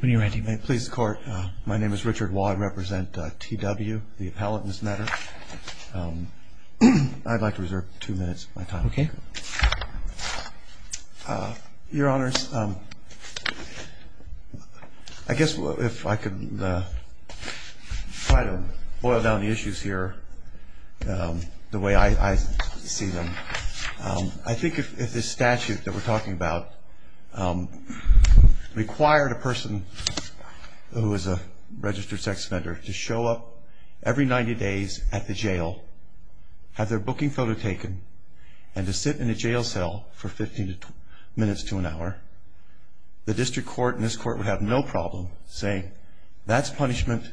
When you're ready, please court. My name is Richard Wong represent TW the appellate in this matter. I'd like to reserve two minutes of my time. Okay. Your honors. I guess if I could try to boil down the issues here. The way I see them. I think if this statute that we're talking about required a person who is a registered sex offender to show up every 90 days at the jail, have their booking photo taken and to sit in a jail cell for 15 minutes to an hour. The district court and this court would have no problem saying that's punishment.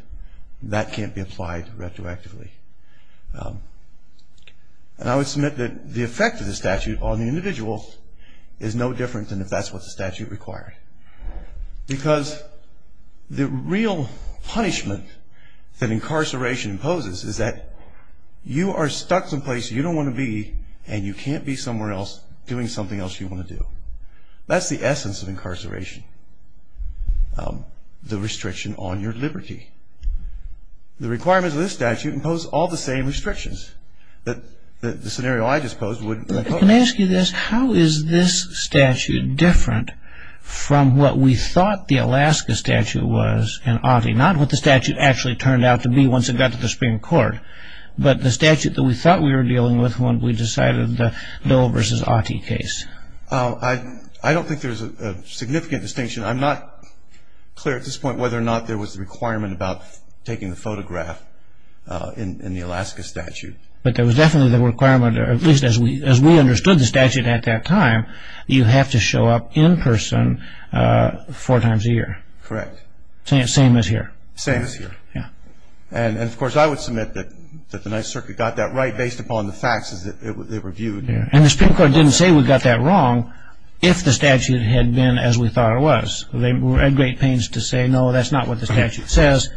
That can't be applied retroactively. And I would submit that the effect of the statute on the individual is no different than if that's what the statute required. Because the real punishment that incarceration imposes is that you are stuck someplace you don't want to be and you can't be somewhere else doing something else you want to do. That's the essence of incarceration. The restriction on your liberty. The requirements of this statute impose all the same restrictions. I don't think there's a significant distinction. I'm not clear at this point whether or not there was a requirement about taking the photograph in the Alaska statute. But there was definitely the requirement, at least as we understood the statute at that time, you have to show up in person four times a year. Correct. Same as here. Same as here. Yeah. And of course I would submit that the 9th Circuit got that right based upon the facts as they were viewed. And the Supreme Court didn't say we got that wrong if the statute had been as we thought it was. They were at great pains to say no, that's not what the statute says,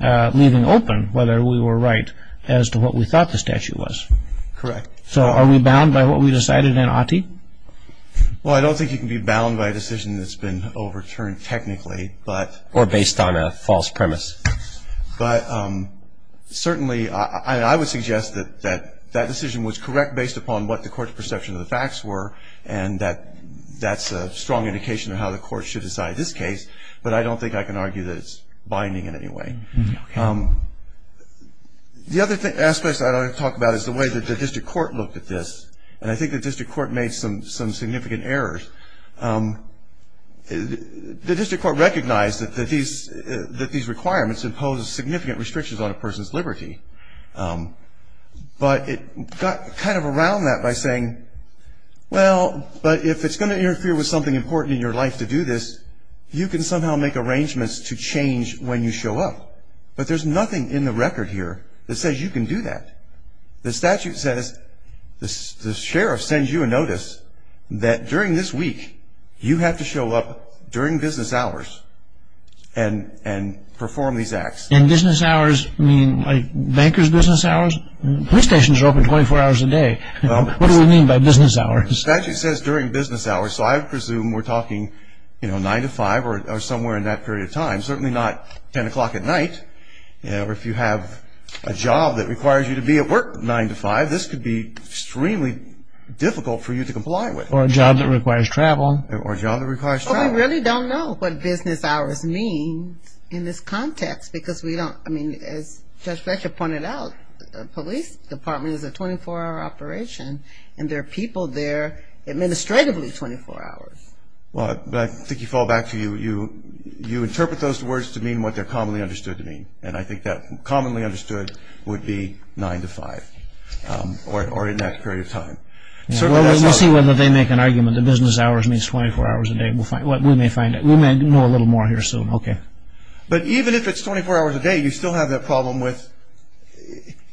leaving open whether we were right as to what we thought the statute was. Correct. So are we bound by what we decided in Ottie? Well, I don't think you can be bound by a decision that's been overturned technically, but Or based on a false premise. But certainly I would suggest that that decision was correct based upon what the court's perception of the facts were And that's a strong indication of how the court should decide this case. But I don't think I can argue that it's binding in any way. Okay. The other aspect I'd like to talk about is the way that the district court looked at this. And I think the district court made some significant errors. The district court recognized that these requirements impose significant restrictions on a person's liberty. But it got kind of around that by saying, well, but if it's going to interfere with something important in your life to do this, you can somehow make arrangements to change when you show up. But there's nothing in the record here that says you can do that. The statute says the sheriff sends you a notice that during this week you have to show up during business hours and perform these acts. And business hours mean like banker's business hours? Police stations are open 24 hours a day. What do we mean by business hours? The statute says during business hours. So I presume we're talking, you know, 9 to 5 or somewhere in that period of time. Certainly not 10 o'clock at night. If you have a job that requires you to be at work 9 to 5, this could be extremely difficult for you to comply with. Or a job that requires travel. Or a job that requires travel. Well, we really don't know what business hours mean in this context because we don't, I mean, as Judge Fletcher pointed out, the police department is a 24-hour operation and there are people there administratively 24 hours. Well, but I think you fall back to you interpret those words to mean what they're commonly understood to mean. And I think that commonly understood would be 9 to 5 or in that period of time. We'll see whether they make an argument that business hours means 24 hours a day. We may find out. We may know a little more here soon. But even if it's 24 hours a day, you still have that problem with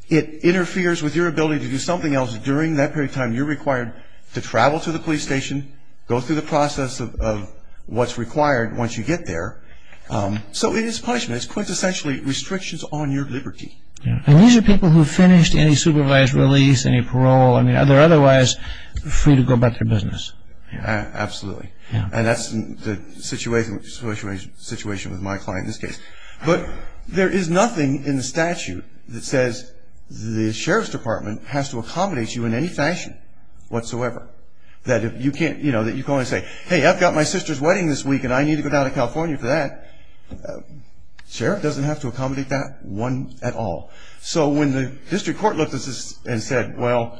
it interferes with your ability to do something else during that period of time you're required to travel to the police station, go through the process of what's required once you get there. So it is punishment. It's quintessentially restrictions on your liberty. And these are people who finished any supervised release, any parole. I mean, they're otherwise free to go about their business. Absolutely. And that's the situation with my client in this case. But there is nothing in the statute that says the sheriff's department has to accommodate you in any fashion whatsoever. That you can't, you know, that you can only say, hey, I've got my sister's wedding this week and I need to go down to California for that. Sheriff doesn't have to accommodate that one at all. So when the district court looked at this and said, well,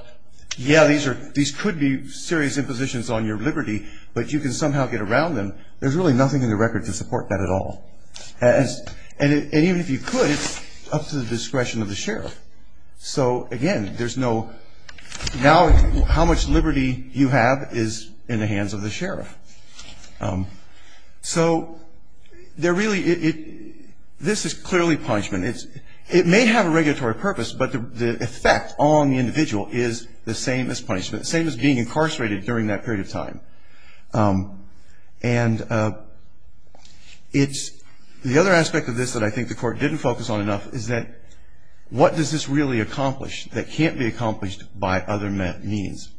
yeah, these could be serious impositions on your liberty, but you can somehow get around them, there's really nothing in the record to support that at all. And even if you could, it's up to the discretion of the sheriff. So, again, there's no, now how much liberty you have is in the hands of the sheriff. So there really, this is clearly punishment. It may have a regulatory purpose, but the effect on the individual is the same as punishment, the same as being incarcerated during that period of time. And it's, the other aspect of this that I think the court didn't focus on enough is that, what does this really accomplish that can't be accomplished by other means?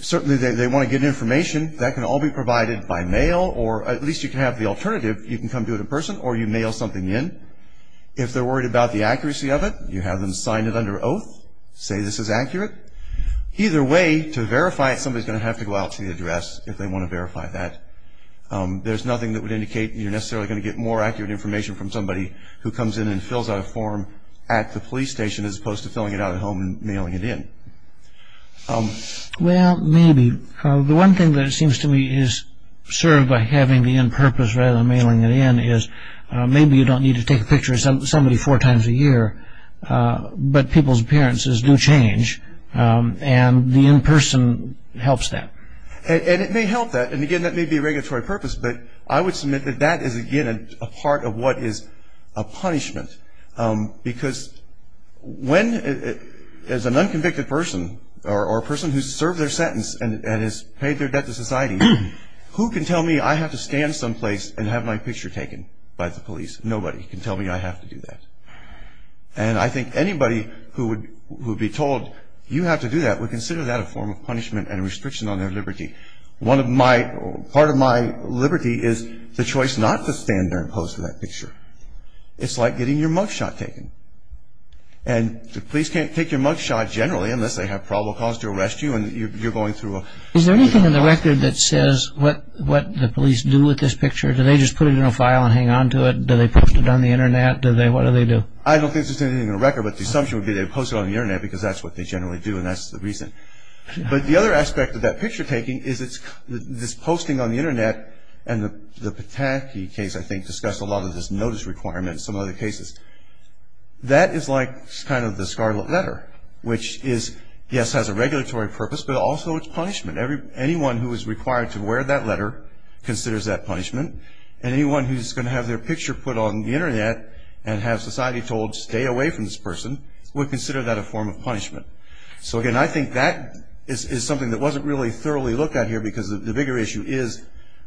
Certainly they want to get information. That can all be provided by mail or at least you can have the alternative. You can come do it in person or you mail something in. If they're worried about the accuracy of it, you have them sign it under oath, say this is accurate. Either way, to verify it, somebody's going to have to go out to the address if they want to verify that. There's nothing that would indicate you're necessarily going to get more accurate information from somebody who comes in and fills out a form at the police station as opposed to filling it out at home and mailing it to you. Well, maybe. The one thing that seems to me is served by having the end purpose rather than mailing it in, is maybe you don't need to take a picture of somebody four times a year, but people's appearances do change and the in-person helps that. And it may help that, and again, that may be a regulatory purpose, but I would submit that that is, again, a part of what is a punishment. Because when, as an unconvicted person or a person who's served their sentence and has paid their debt to society, who can tell me I have to stand someplace and have my picture taken by the police? Nobody can tell me I have to do that. And I think anybody who would be told, you have to do that, would consider that a form of punishment and a restriction on their liberty. Part of my liberty is the choice not to stand there and pose for that picture. It's like getting your mug shot taken. And the police can't take your mug shot generally unless they have probable cause to arrest you and you're going through a... Is there anything in the record that says what the police do with this picture? Do they just put it in a file and hang on to it? Do they post it on the Internet? What do they do? I don't think there's anything in the record, but the assumption would be they post it on the Internet because that's what they generally do and that's the reason. But the other aspect of that picture taking is this posting on the Internet and the Pataki case, I think, discussed a lot of this notice requirement and some other cases. That is like kind of the scarlet letter, which is, yes, has a regulatory purpose, but also it's punishment. Anyone who is required to wear that letter considers that punishment. And anyone who's going to have their picture put on the Internet and have society told, stay away from this person, would consider that a form of punishment. So, again, I think that is something that wasn't really thoroughly looked at here because the bigger issue is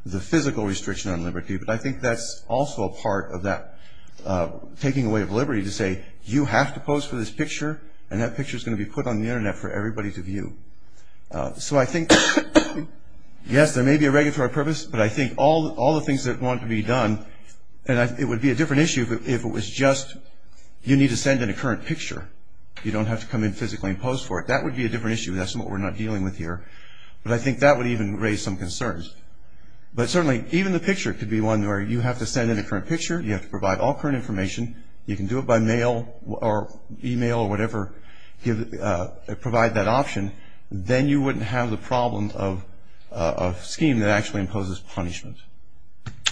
the physical restriction on liberty, but I think that's also a part of that taking away of liberty to say, you have to post for this picture and that picture is going to be put on the Internet for everybody to view. So I think, yes, there may be a regulatory purpose, but I think all the things that want to be done, and it would be a different issue if it was just you need to send in a current picture. You don't have to come in physically and post for it. That would be a different issue. That's what we're not dealing with here. But I think that would even raise some concerns. But certainly even the picture could be one where you have to send in a current picture, you have to provide all current information, you can do it by mail or e-mail or whatever, provide that option, then you wouldn't have the problem of a scheme that actually imposes punishment.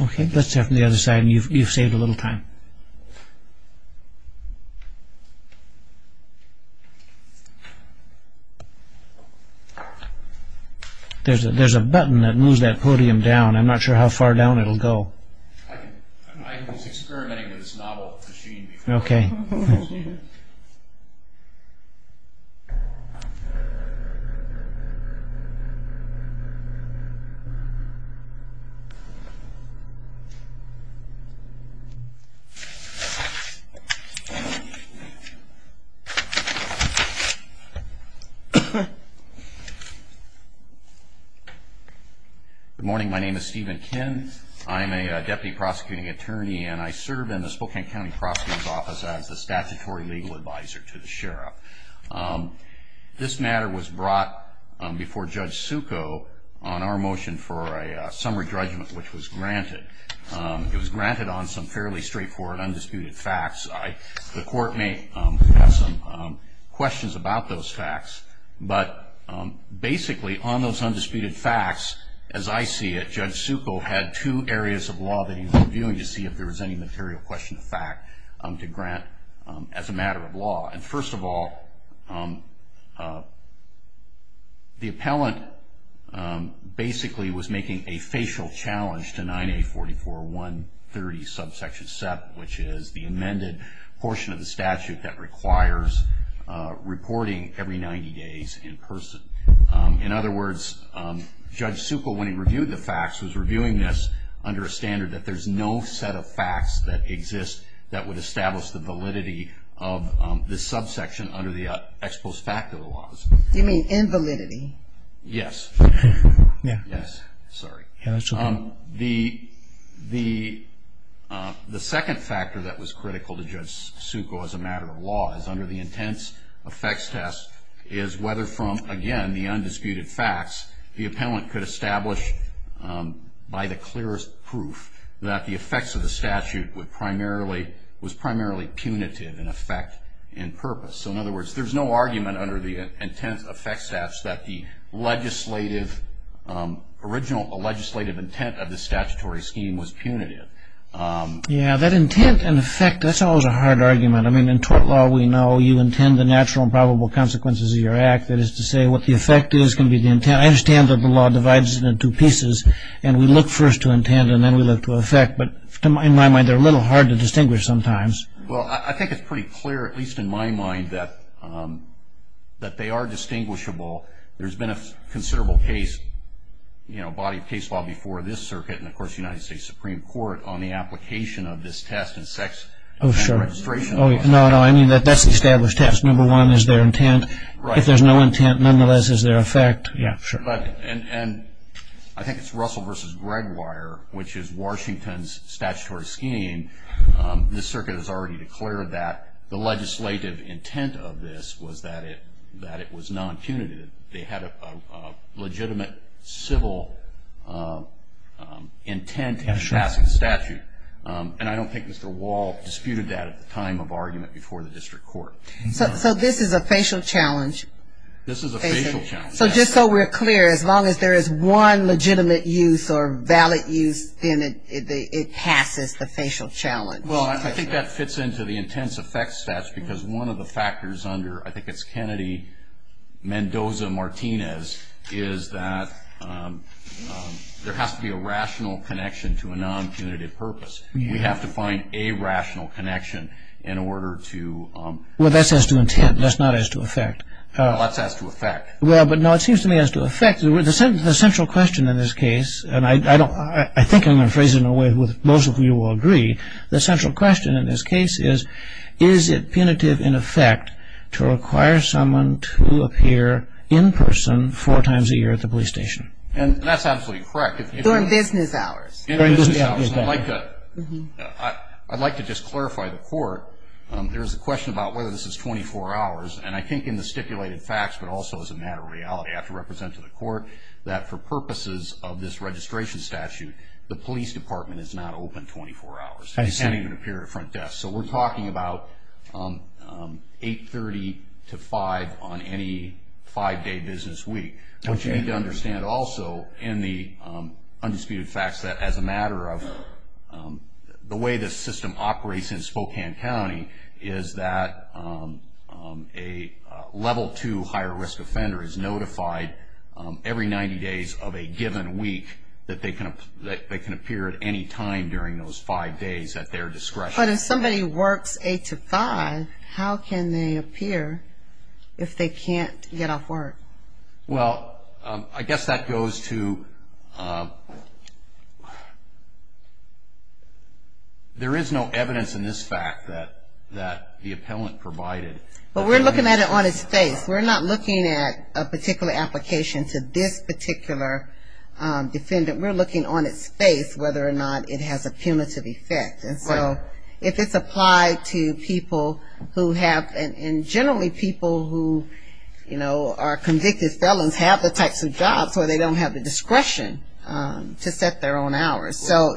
Okay. Let's start from the other side. You've saved a little time. There's a button that moves that podium down. I'm not sure how far down it will go. I was experimenting with this novel machine before. Okay. Okay. Good morning. My name is Stephen Kinn. I'm a deputy prosecuting attorney, and I serve in the Spokane County Prosecutor's Office as the statutory legal advisor to the sheriff. This matter was brought before Judge Succo on our motion for a summary judgment, which was granted. It was granted on some fairly straightforward, undisputed facts. The court may have some questions about those facts, but basically on those undisputed facts, as I see it, Judge Succo had two areas of law that he was reviewing to see if there was any material question of fact to grant as a matter of law. First of all, the appellant basically was making a facial challenge to 9A44130, subsection 7, which is the amended portion of the statute that requires reporting every 90 days in person. In other words, Judge Succo, when he reviewed the facts, was reviewing this under a standard that there's no set of facts that exist that would establish the validity of this subsection under the ex post facto laws. Do you mean invalidity? Yes. Yeah. Yes. Sorry. Yeah, that's okay. The second factor that was critical to Judge Succo as a matter of law is under the intense effects test is whether from, again, the undisputed facts, the appellant could establish by the clearest proof that the effects of the statute was primarily punitive in effect and purpose. So, in other words, there's no argument under the intense effects test that the legislative intent of the statutory scheme was punitive. Yeah, that intent and effect, that's always a hard argument. I mean, in tort law, we know you intend the natural and probable consequences of your act. That is to say, what the effect is can be the intent. I understand that the law divides it into pieces, and we look first to intent, and then we look to effect. But in my mind, they're a little hard to distinguish sometimes. Well, I think it's pretty clear, at least in my mind, that they are distinguishable. There's been a considerable case, you know, body of case law before this circuit and, of course, the United States Supreme Court on the application of this test in sex registration. Oh, sure. No, no, I mean that that's the established test. Number one is their intent. Right. If there's no intent, nonetheless, is there effect? Yeah, sure. And I think it's Russell v. Gregoire, which is Washington's statutory scheme. This circuit has already declared that the legislative intent of this was that it was non-punitive. They had a legitimate civil intent in passing the statute. And I don't think Mr. Wall disputed that at the time of argument before the district court. So this is a facial challenge. This is a facial challenge. So just so we're clear, as long as there is one legitimate use or valid use, then it passes the facial challenge. Well, I think that fits into the intense effect stats because one of the factors under, I think it's Kennedy-Mendoza-Martinez, is that there has to be a rational connection to a non-punitive purpose. We have to find a rational connection in order to... Well, that's as to intent. That's not as to effect. No, that's as to effect. Well, but no, it seems to me as to effect. The central question in this case, and I think I'm going to phrase it in a way that most of you will agree, the central question in this case is, is it punitive in effect to require someone to appear in person four times a year at the police station? And that's absolutely correct. During business hours. During business hours. I'd like to just clarify the court. There's a question about whether this is 24 hours, and I think in the stipulated facts, but also as a matter of reality I have to represent to the court that for purposes of this registration statute, the police department is not open 24 hours. It can't even appear at a front desk. So we're talking about 8.30 to 5.00 on any five-day business week. But you need to understand also in the undisputed facts that as a matter of the way this system operates in Spokane County, is that a level two higher risk offender is notified every 90 days of a given week that they can appear at any time during those five days at their discretion. But if somebody works 8 to 5, how can they appear if they can't get off work? Well, I guess that goes to there is no evidence in this fact that the appellant provided. But we're looking at it on its face. We're not looking at a particular application to this particular defendant. We're looking on its face whether or not it has a punitive effect. And so if it's applied to people who have and generally people who, you know, are convicted felons have the types of jobs where they don't have the discretion to set their own hours. So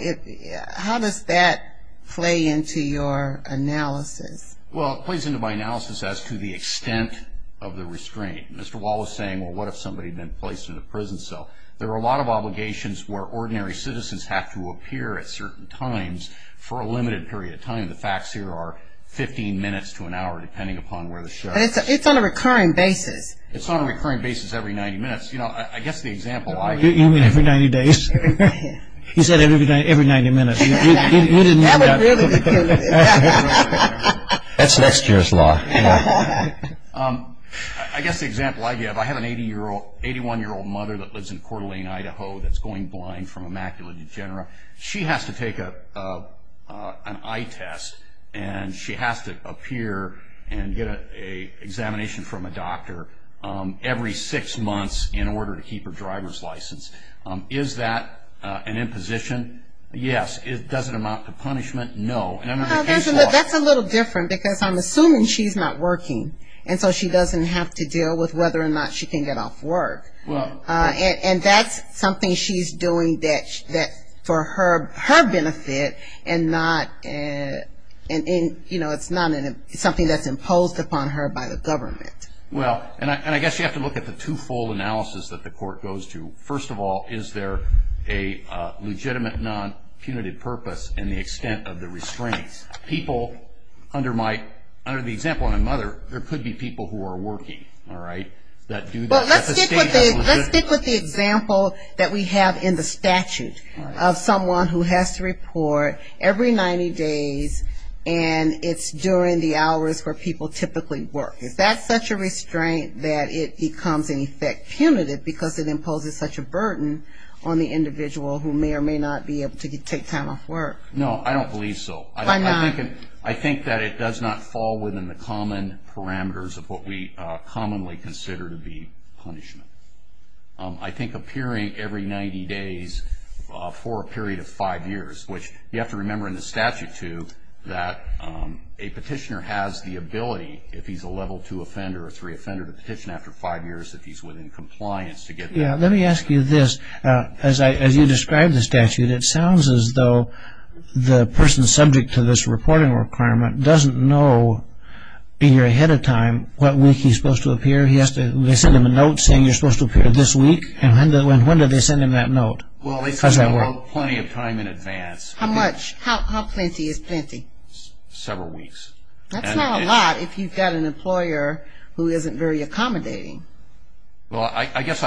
how does that play into your analysis? Well, it plays into my analysis as to the extent of the restraint. Mr. Wall was saying, well, what if somebody had been placed in a prison cell? There are a lot of obligations where ordinary citizens have to appear at certain times for a limited period of time. The facts here are 15 minutes to an hour depending upon where the show is. It's on a recurring basis. It's on a recurring basis every 90 minutes. You know, I guess the example I give. You mean every 90 days? He said every 90 minutes. That's next year's law. I guess the example I give. I have an 81-year-old mother that lives in Coeur d'Alene, Idaho, that's going blind from a macular degenera. She has to take an eye test and she has to appear and get an examination from a doctor every six months in order to keep her driver's license. Is that an imposition? Yes. Does it amount to punishment? No. That's a little different because I'm assuming she's not working, and so she doesn't have to deal with whether or not she can get off work. And that's something she's doing for her benefit and not, you know, it's not something that's imposed upon her by the government. Well, and I guess you have to look at the two-fold analysis that the court goes to. First of all, is there a legitimate non-punitive purpose in the extent of the restraints? People, under the example of my mother, there could be people who are working, all right, that do that. Let's stick with the example that we have in the statute of someone who has to report every 90 days and it's during the hours where people typically work. Is that such a restraint that it becomes, in effect, punitive because it imposes such a burden on the individual who may or may not be able to take time off work? No, I don't believe so. Why not? I think that it does not fall within the common parameters of what we commonly consider to be punishment. I think appearing every 90 days for a period of five years, which you have to remember in the statute, too, that a petitioner has the ability, if he's a level two offender or three offender, to petition after five years if he's within compliance to get that. Yeah, let me ask you this. As you describe the statute, it sounds as though the person subject to this reporting requirement doesn't know a year ahead of time what week he's supposed to appear. They send him a note saying you're supposed to appear this week, and when do they send him that note? Well, they send him a note plenty of time in advance. How much? How plenty is plenty? Several weeks. That's not a lot if you've got an employer who isn't very accommodating. Well, I guess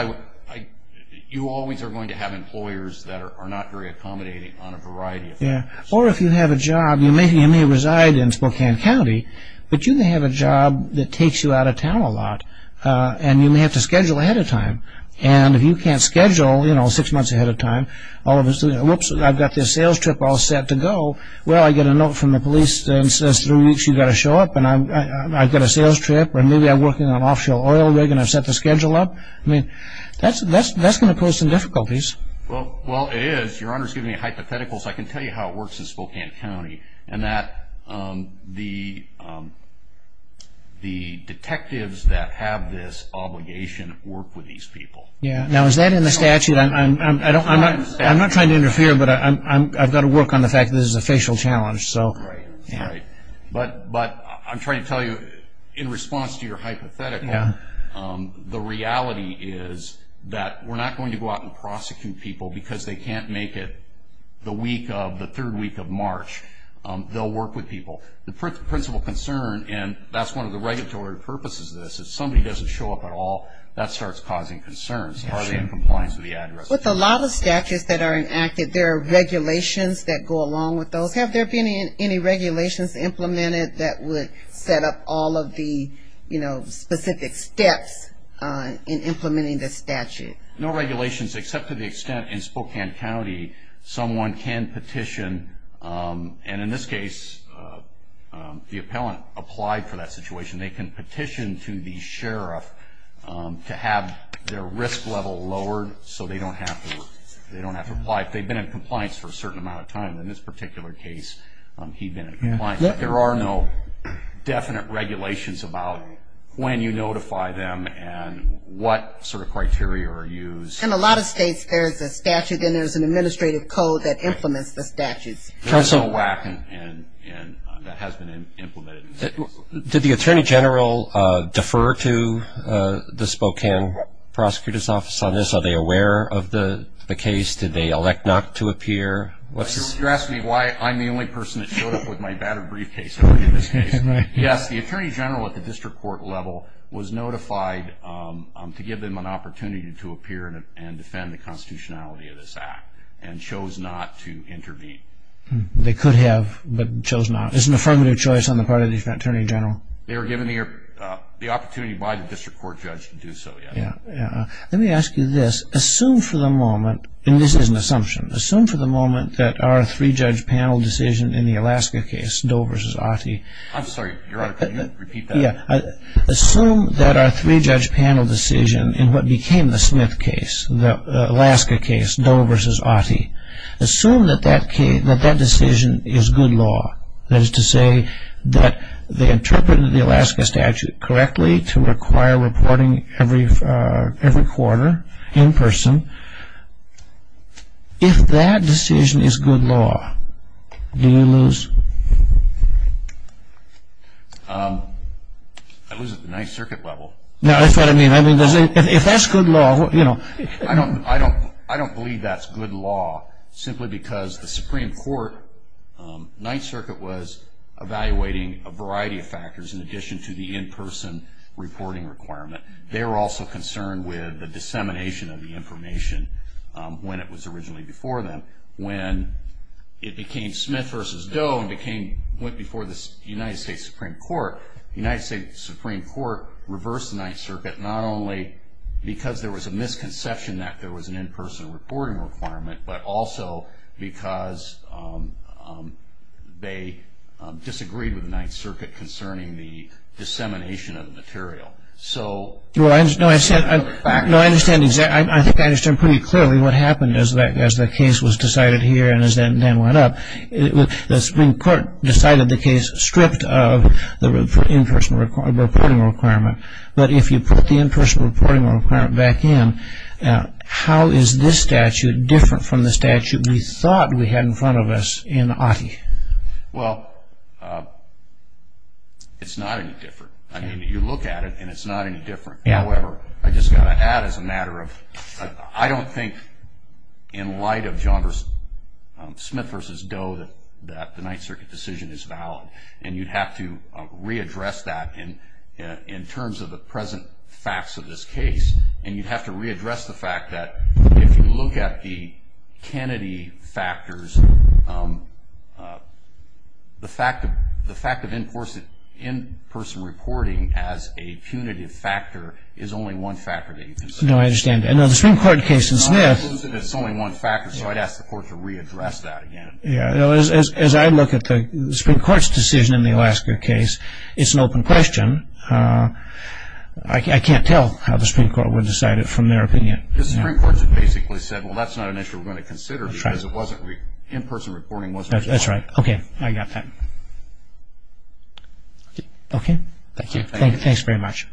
you always are going to have employers that are not very accommodating on a variety of things. Yeah, or if you have a job, you may reside in Spokane County, but you may have a job that takes you out of town a lot, and you may have to schedule ahead of time. And if you can't schedule, you know, six months ahead of time, all of a sudden, whoops, I've got this sales trip all set to go, well, I get a note from the police that says three weeks you've got to show up, and I've got a sales trip, or maybe I'm working on an offshore oil rig and I've set the schedule up. I mean, that's going to pose some difficulties. Well, it is. Your Honor's giving me a hypothetical, so I can tell you how it works in Spokane County, and that the detectives that have this obligation work with these people. Yeah. Now, is that in the statute? I'm not trying to interfere, but I've got to work on the fact that this is a facial challenge. Right, right. But I'm trying to tell you, in response to your hypothetical, the reality is that we're not going to go out and prosecute people because they can't make it the week of the third week of March. They'll work with people. The principal concern, and that's one of the regulatory purposes of this, if somebody doesn't show up at all, that starts causing concerns. Are they in compliance with the address? With a lot of statutes that are enacted, there are regulations that go along with those. Have there been any regulations implemented that would set up all of the, you know, specific steps in implementing the statute? No regulations except to the extent in Spokane County someone can petition, and in this case the appellant applied for that situation. They can petition to the sheriff to have their risk level lowered so they don't have to apply. If they've been in compliance for a certain amount of time, in this particular case he'd been in compliance. But there are no definite regulations about when you notify them and what sort of criteria are used. In a lot of states there's a statute, then there's an administrative code that implements the statutes. There's no WAC and that has been implemented. Did the Attorney General defer to the Spokane Prosecutor's Office on this? Are they aware of the case? Did they elect not to appear? You're asking me why I'm the only person that showed up with my battered briefcase in this case. Yes, the Attorney General at the district court level was notified to give them an opportunity to appear and defend the constitutionality of this act and chose not to intervene. They could have, but chose not. It's an affirmative choice on the part of the Attorney General. They were given the opportunity by the district court judge to do so. Let me ask you this. Assume for the moment, and this is an assumption, assume for the moment that our three-judge panel decision in the Alaska case, Doe v. Ottey. I'm sorry, your Honor, can you repeat that? Assume that our three-judge panel decision in what became the Smith case, the Alaska case, Doe v. Ottey. Assume that that decision is good law. That is to say that they interpreted the Alaska statute correctly to require reporting every quarter in person. If that decision is good law, do you lose? I lose at the Ninth Circuit level. That's what I mean. If that's good law, you know. I don't believe that's good law simply because the Supreme Court, Ninth Circuit was evaluating a variety of factors in addition to the in-person reporting requirement. They were also concerned with the dissemination of the information when it was originally before them. When it became Smith v. Doe and went before the United States Supreme Court, the United States Supreme Court reversed the Ninth Circuit not only because there was a misconception that there was an in-person reporting requirement, but also because they disagreed with the Ninth Circuit concerning the dissemination of the material. I think I understand pretty clearly what happened as the case was decided here and then went up. The Supreme Court decided the case stripped of the in-person reporting requirement, but if you put the in-person reporting requirement back in, how is this statute different from the statute we thought we had in front of us in Ottey? Well, it's not any different. I mean, you look at it and it's not any different. However, I just got to add as a matter of, I don't think in light of Smith v. Doe that the Ninth Circuit decision is valid, and you'd have to readdress that in terms of the present facts of this case, and you'd have to readdress the fact that if you look at the Kennedy factors, the fact of in-person reporting as a punitive factor is only one factor that you can say. No, I understand. No, the Supreme Court case in Smith. It's only one factor, so I'd ask the Court to readdress that again. Yeah. As I look at the Supreme Court's decision in the Alaska case, it's an open question. I can't tell how the Supreme Court would decide it from their opinion. The Supreme Court basically said, well, that's not an issue we're going to consider because in-person reporting wasn't required. That's right. Okay, I got that. Okay. Thank you. Thanks very much.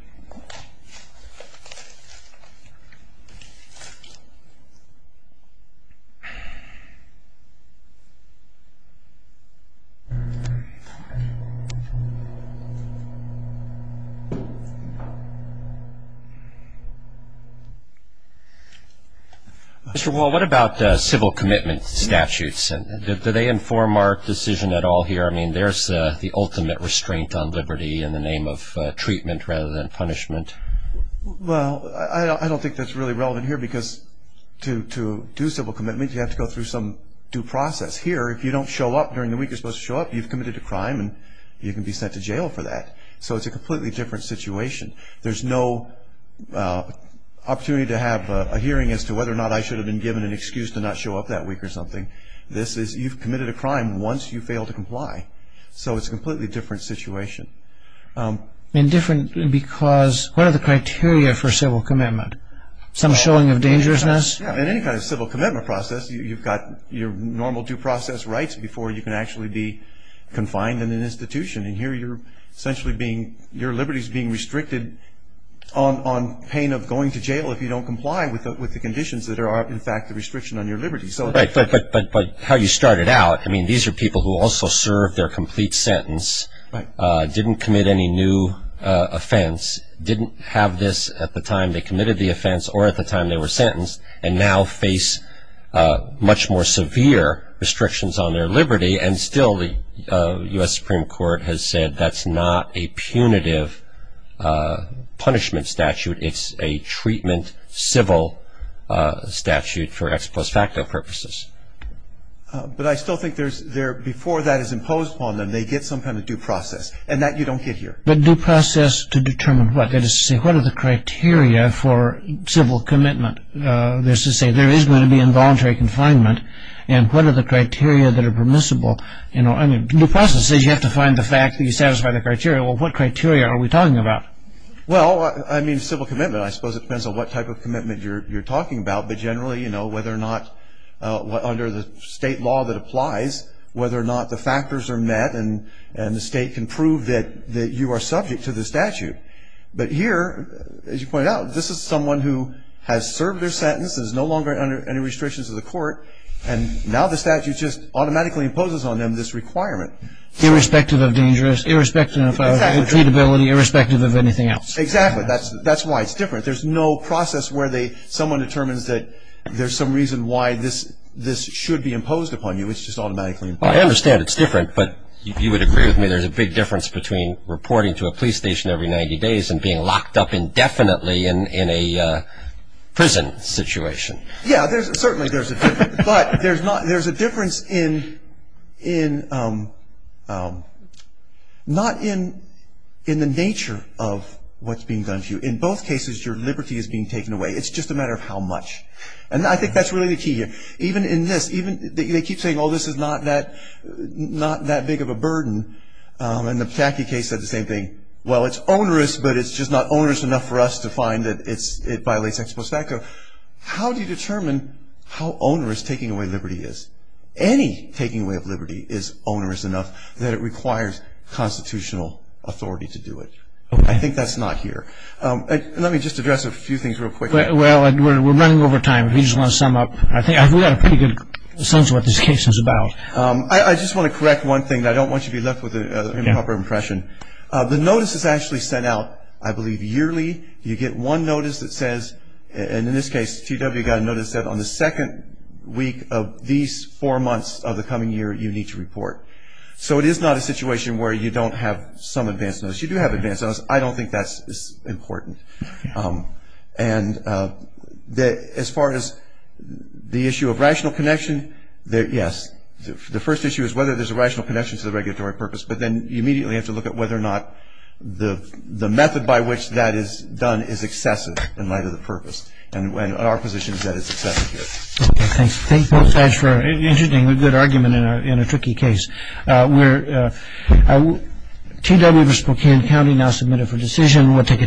Well, what about civil commitment statutes? Do they inform our decision at all here? I mean, there's the ultimate restraint on liberty in the name of treatment rather than punishment. Well, I don't think that's really relevant here because to do civil commitment, you have to go through some due process. Here, if you don't show up during the week you're supposed to show up, you've committed a crime and you can be sent to jail for that. So it's a completely different situation. There's no opportunity to have a hearing as to whether or not I should have been given an excuse to not show up that week or something. You've committed a crime once you fail to comply. So it's a completely different situation. And different because what are the criteria for civil commitment? Some showing of dangerousness? Yeah, in any kind of civil commitment process, you've got your normal due process rights before you can actually be confined in an institution. And here you're essentially being, your liberty is being restricted on pain of going to jail if you don't comply with the conditions that are, in fact, the restriction on your liberty. But how you started out, I mean, these are people who also served their complete sentence, didn't commit any new offense, didn't have this at the time they committed the offense or at the time they were sentenced, and now face much more severe restrictions on their liberty. And still the U.S. Supreme Court has said that's not a punitive punishment statute. It's a treatment civil statute for ex post facto purposes. But I still think there's, before that is imposed upon them, they get some kind of due process. And that you don't get here. But due process to determine what? That is to say, what are the criteria for civil commitment? That is to say, there is going to be involuntary confinement. And what are the criteria that are permissible? I mean, due process says you have to find the fact that you satisfy the criteria. Well, what criteria are we talking about? Well, I mean, civil commitment, I suppose it depends on what type of commitment you're talking about. But generally, you know, whether or not, under the state law that applies, whether or not the factors are met and the state can prove that you are subject to the statute. But here, as you pointed out, this is someone who has served their sentence, is no longer under any restrictions of the court, and now the statute just automatically imposes on them this requirement. Irrespective of dangerous, irrespective of treatability, irrespective of anything else. Exactly. That's why it's different. There's no process where someone determines that there's some reason why this should be imposed upon you. It's just automatically imposed. I understand it's different, but if you would agree with me, there's a big difference between reporting to a police station every 90 days and being locked up indefinitely in a prison situation. Yeah, certainly there's a difference. But there's a difference in not in the nature of what's being done to you. In both cases, your liberty is being taken away. It's just a matter of how much. And I think that's really the key here. Even in this, they keep saying, oh, this is not that big of a burden. And the Pataki case said the same thing. Well, it's onerous, but it's just not onerous enough for us to find that it violates ex post facto. How do you determine how onerous taking away liberty is? Any taking away of liberty is onerous enough that it requires constitutional authority to do it. I think that's not here. Let me just address a few things real quick. Well, we're running over time. If you just want to sum up, I think we got a pretty good sense of what this case is about. I just want to correct one thing. I don't want you to be left with an improper impression. The notice is actually sent out, I believe, yearly. You get one notice that says, and in this case, TW got a notice that said on the second week of these four months of the coming year, you need to report. So it is not a situation where you don't have some advance notice. You do have advance notice. I don't think that's important. And as far as the issue of rational connection, yes. The first issue is whether there's a rational connection to the regulatory purpose, but then you immediately have to look at whether or not the method by which that is done is excessive in light of the purpose. And our position is that it's excessive here. Okay, thanks. Thanks, both sides, for an interestingly good argument in a tricky case. TW for Spokane County now submitted for decision. We'll take a ten-minute break.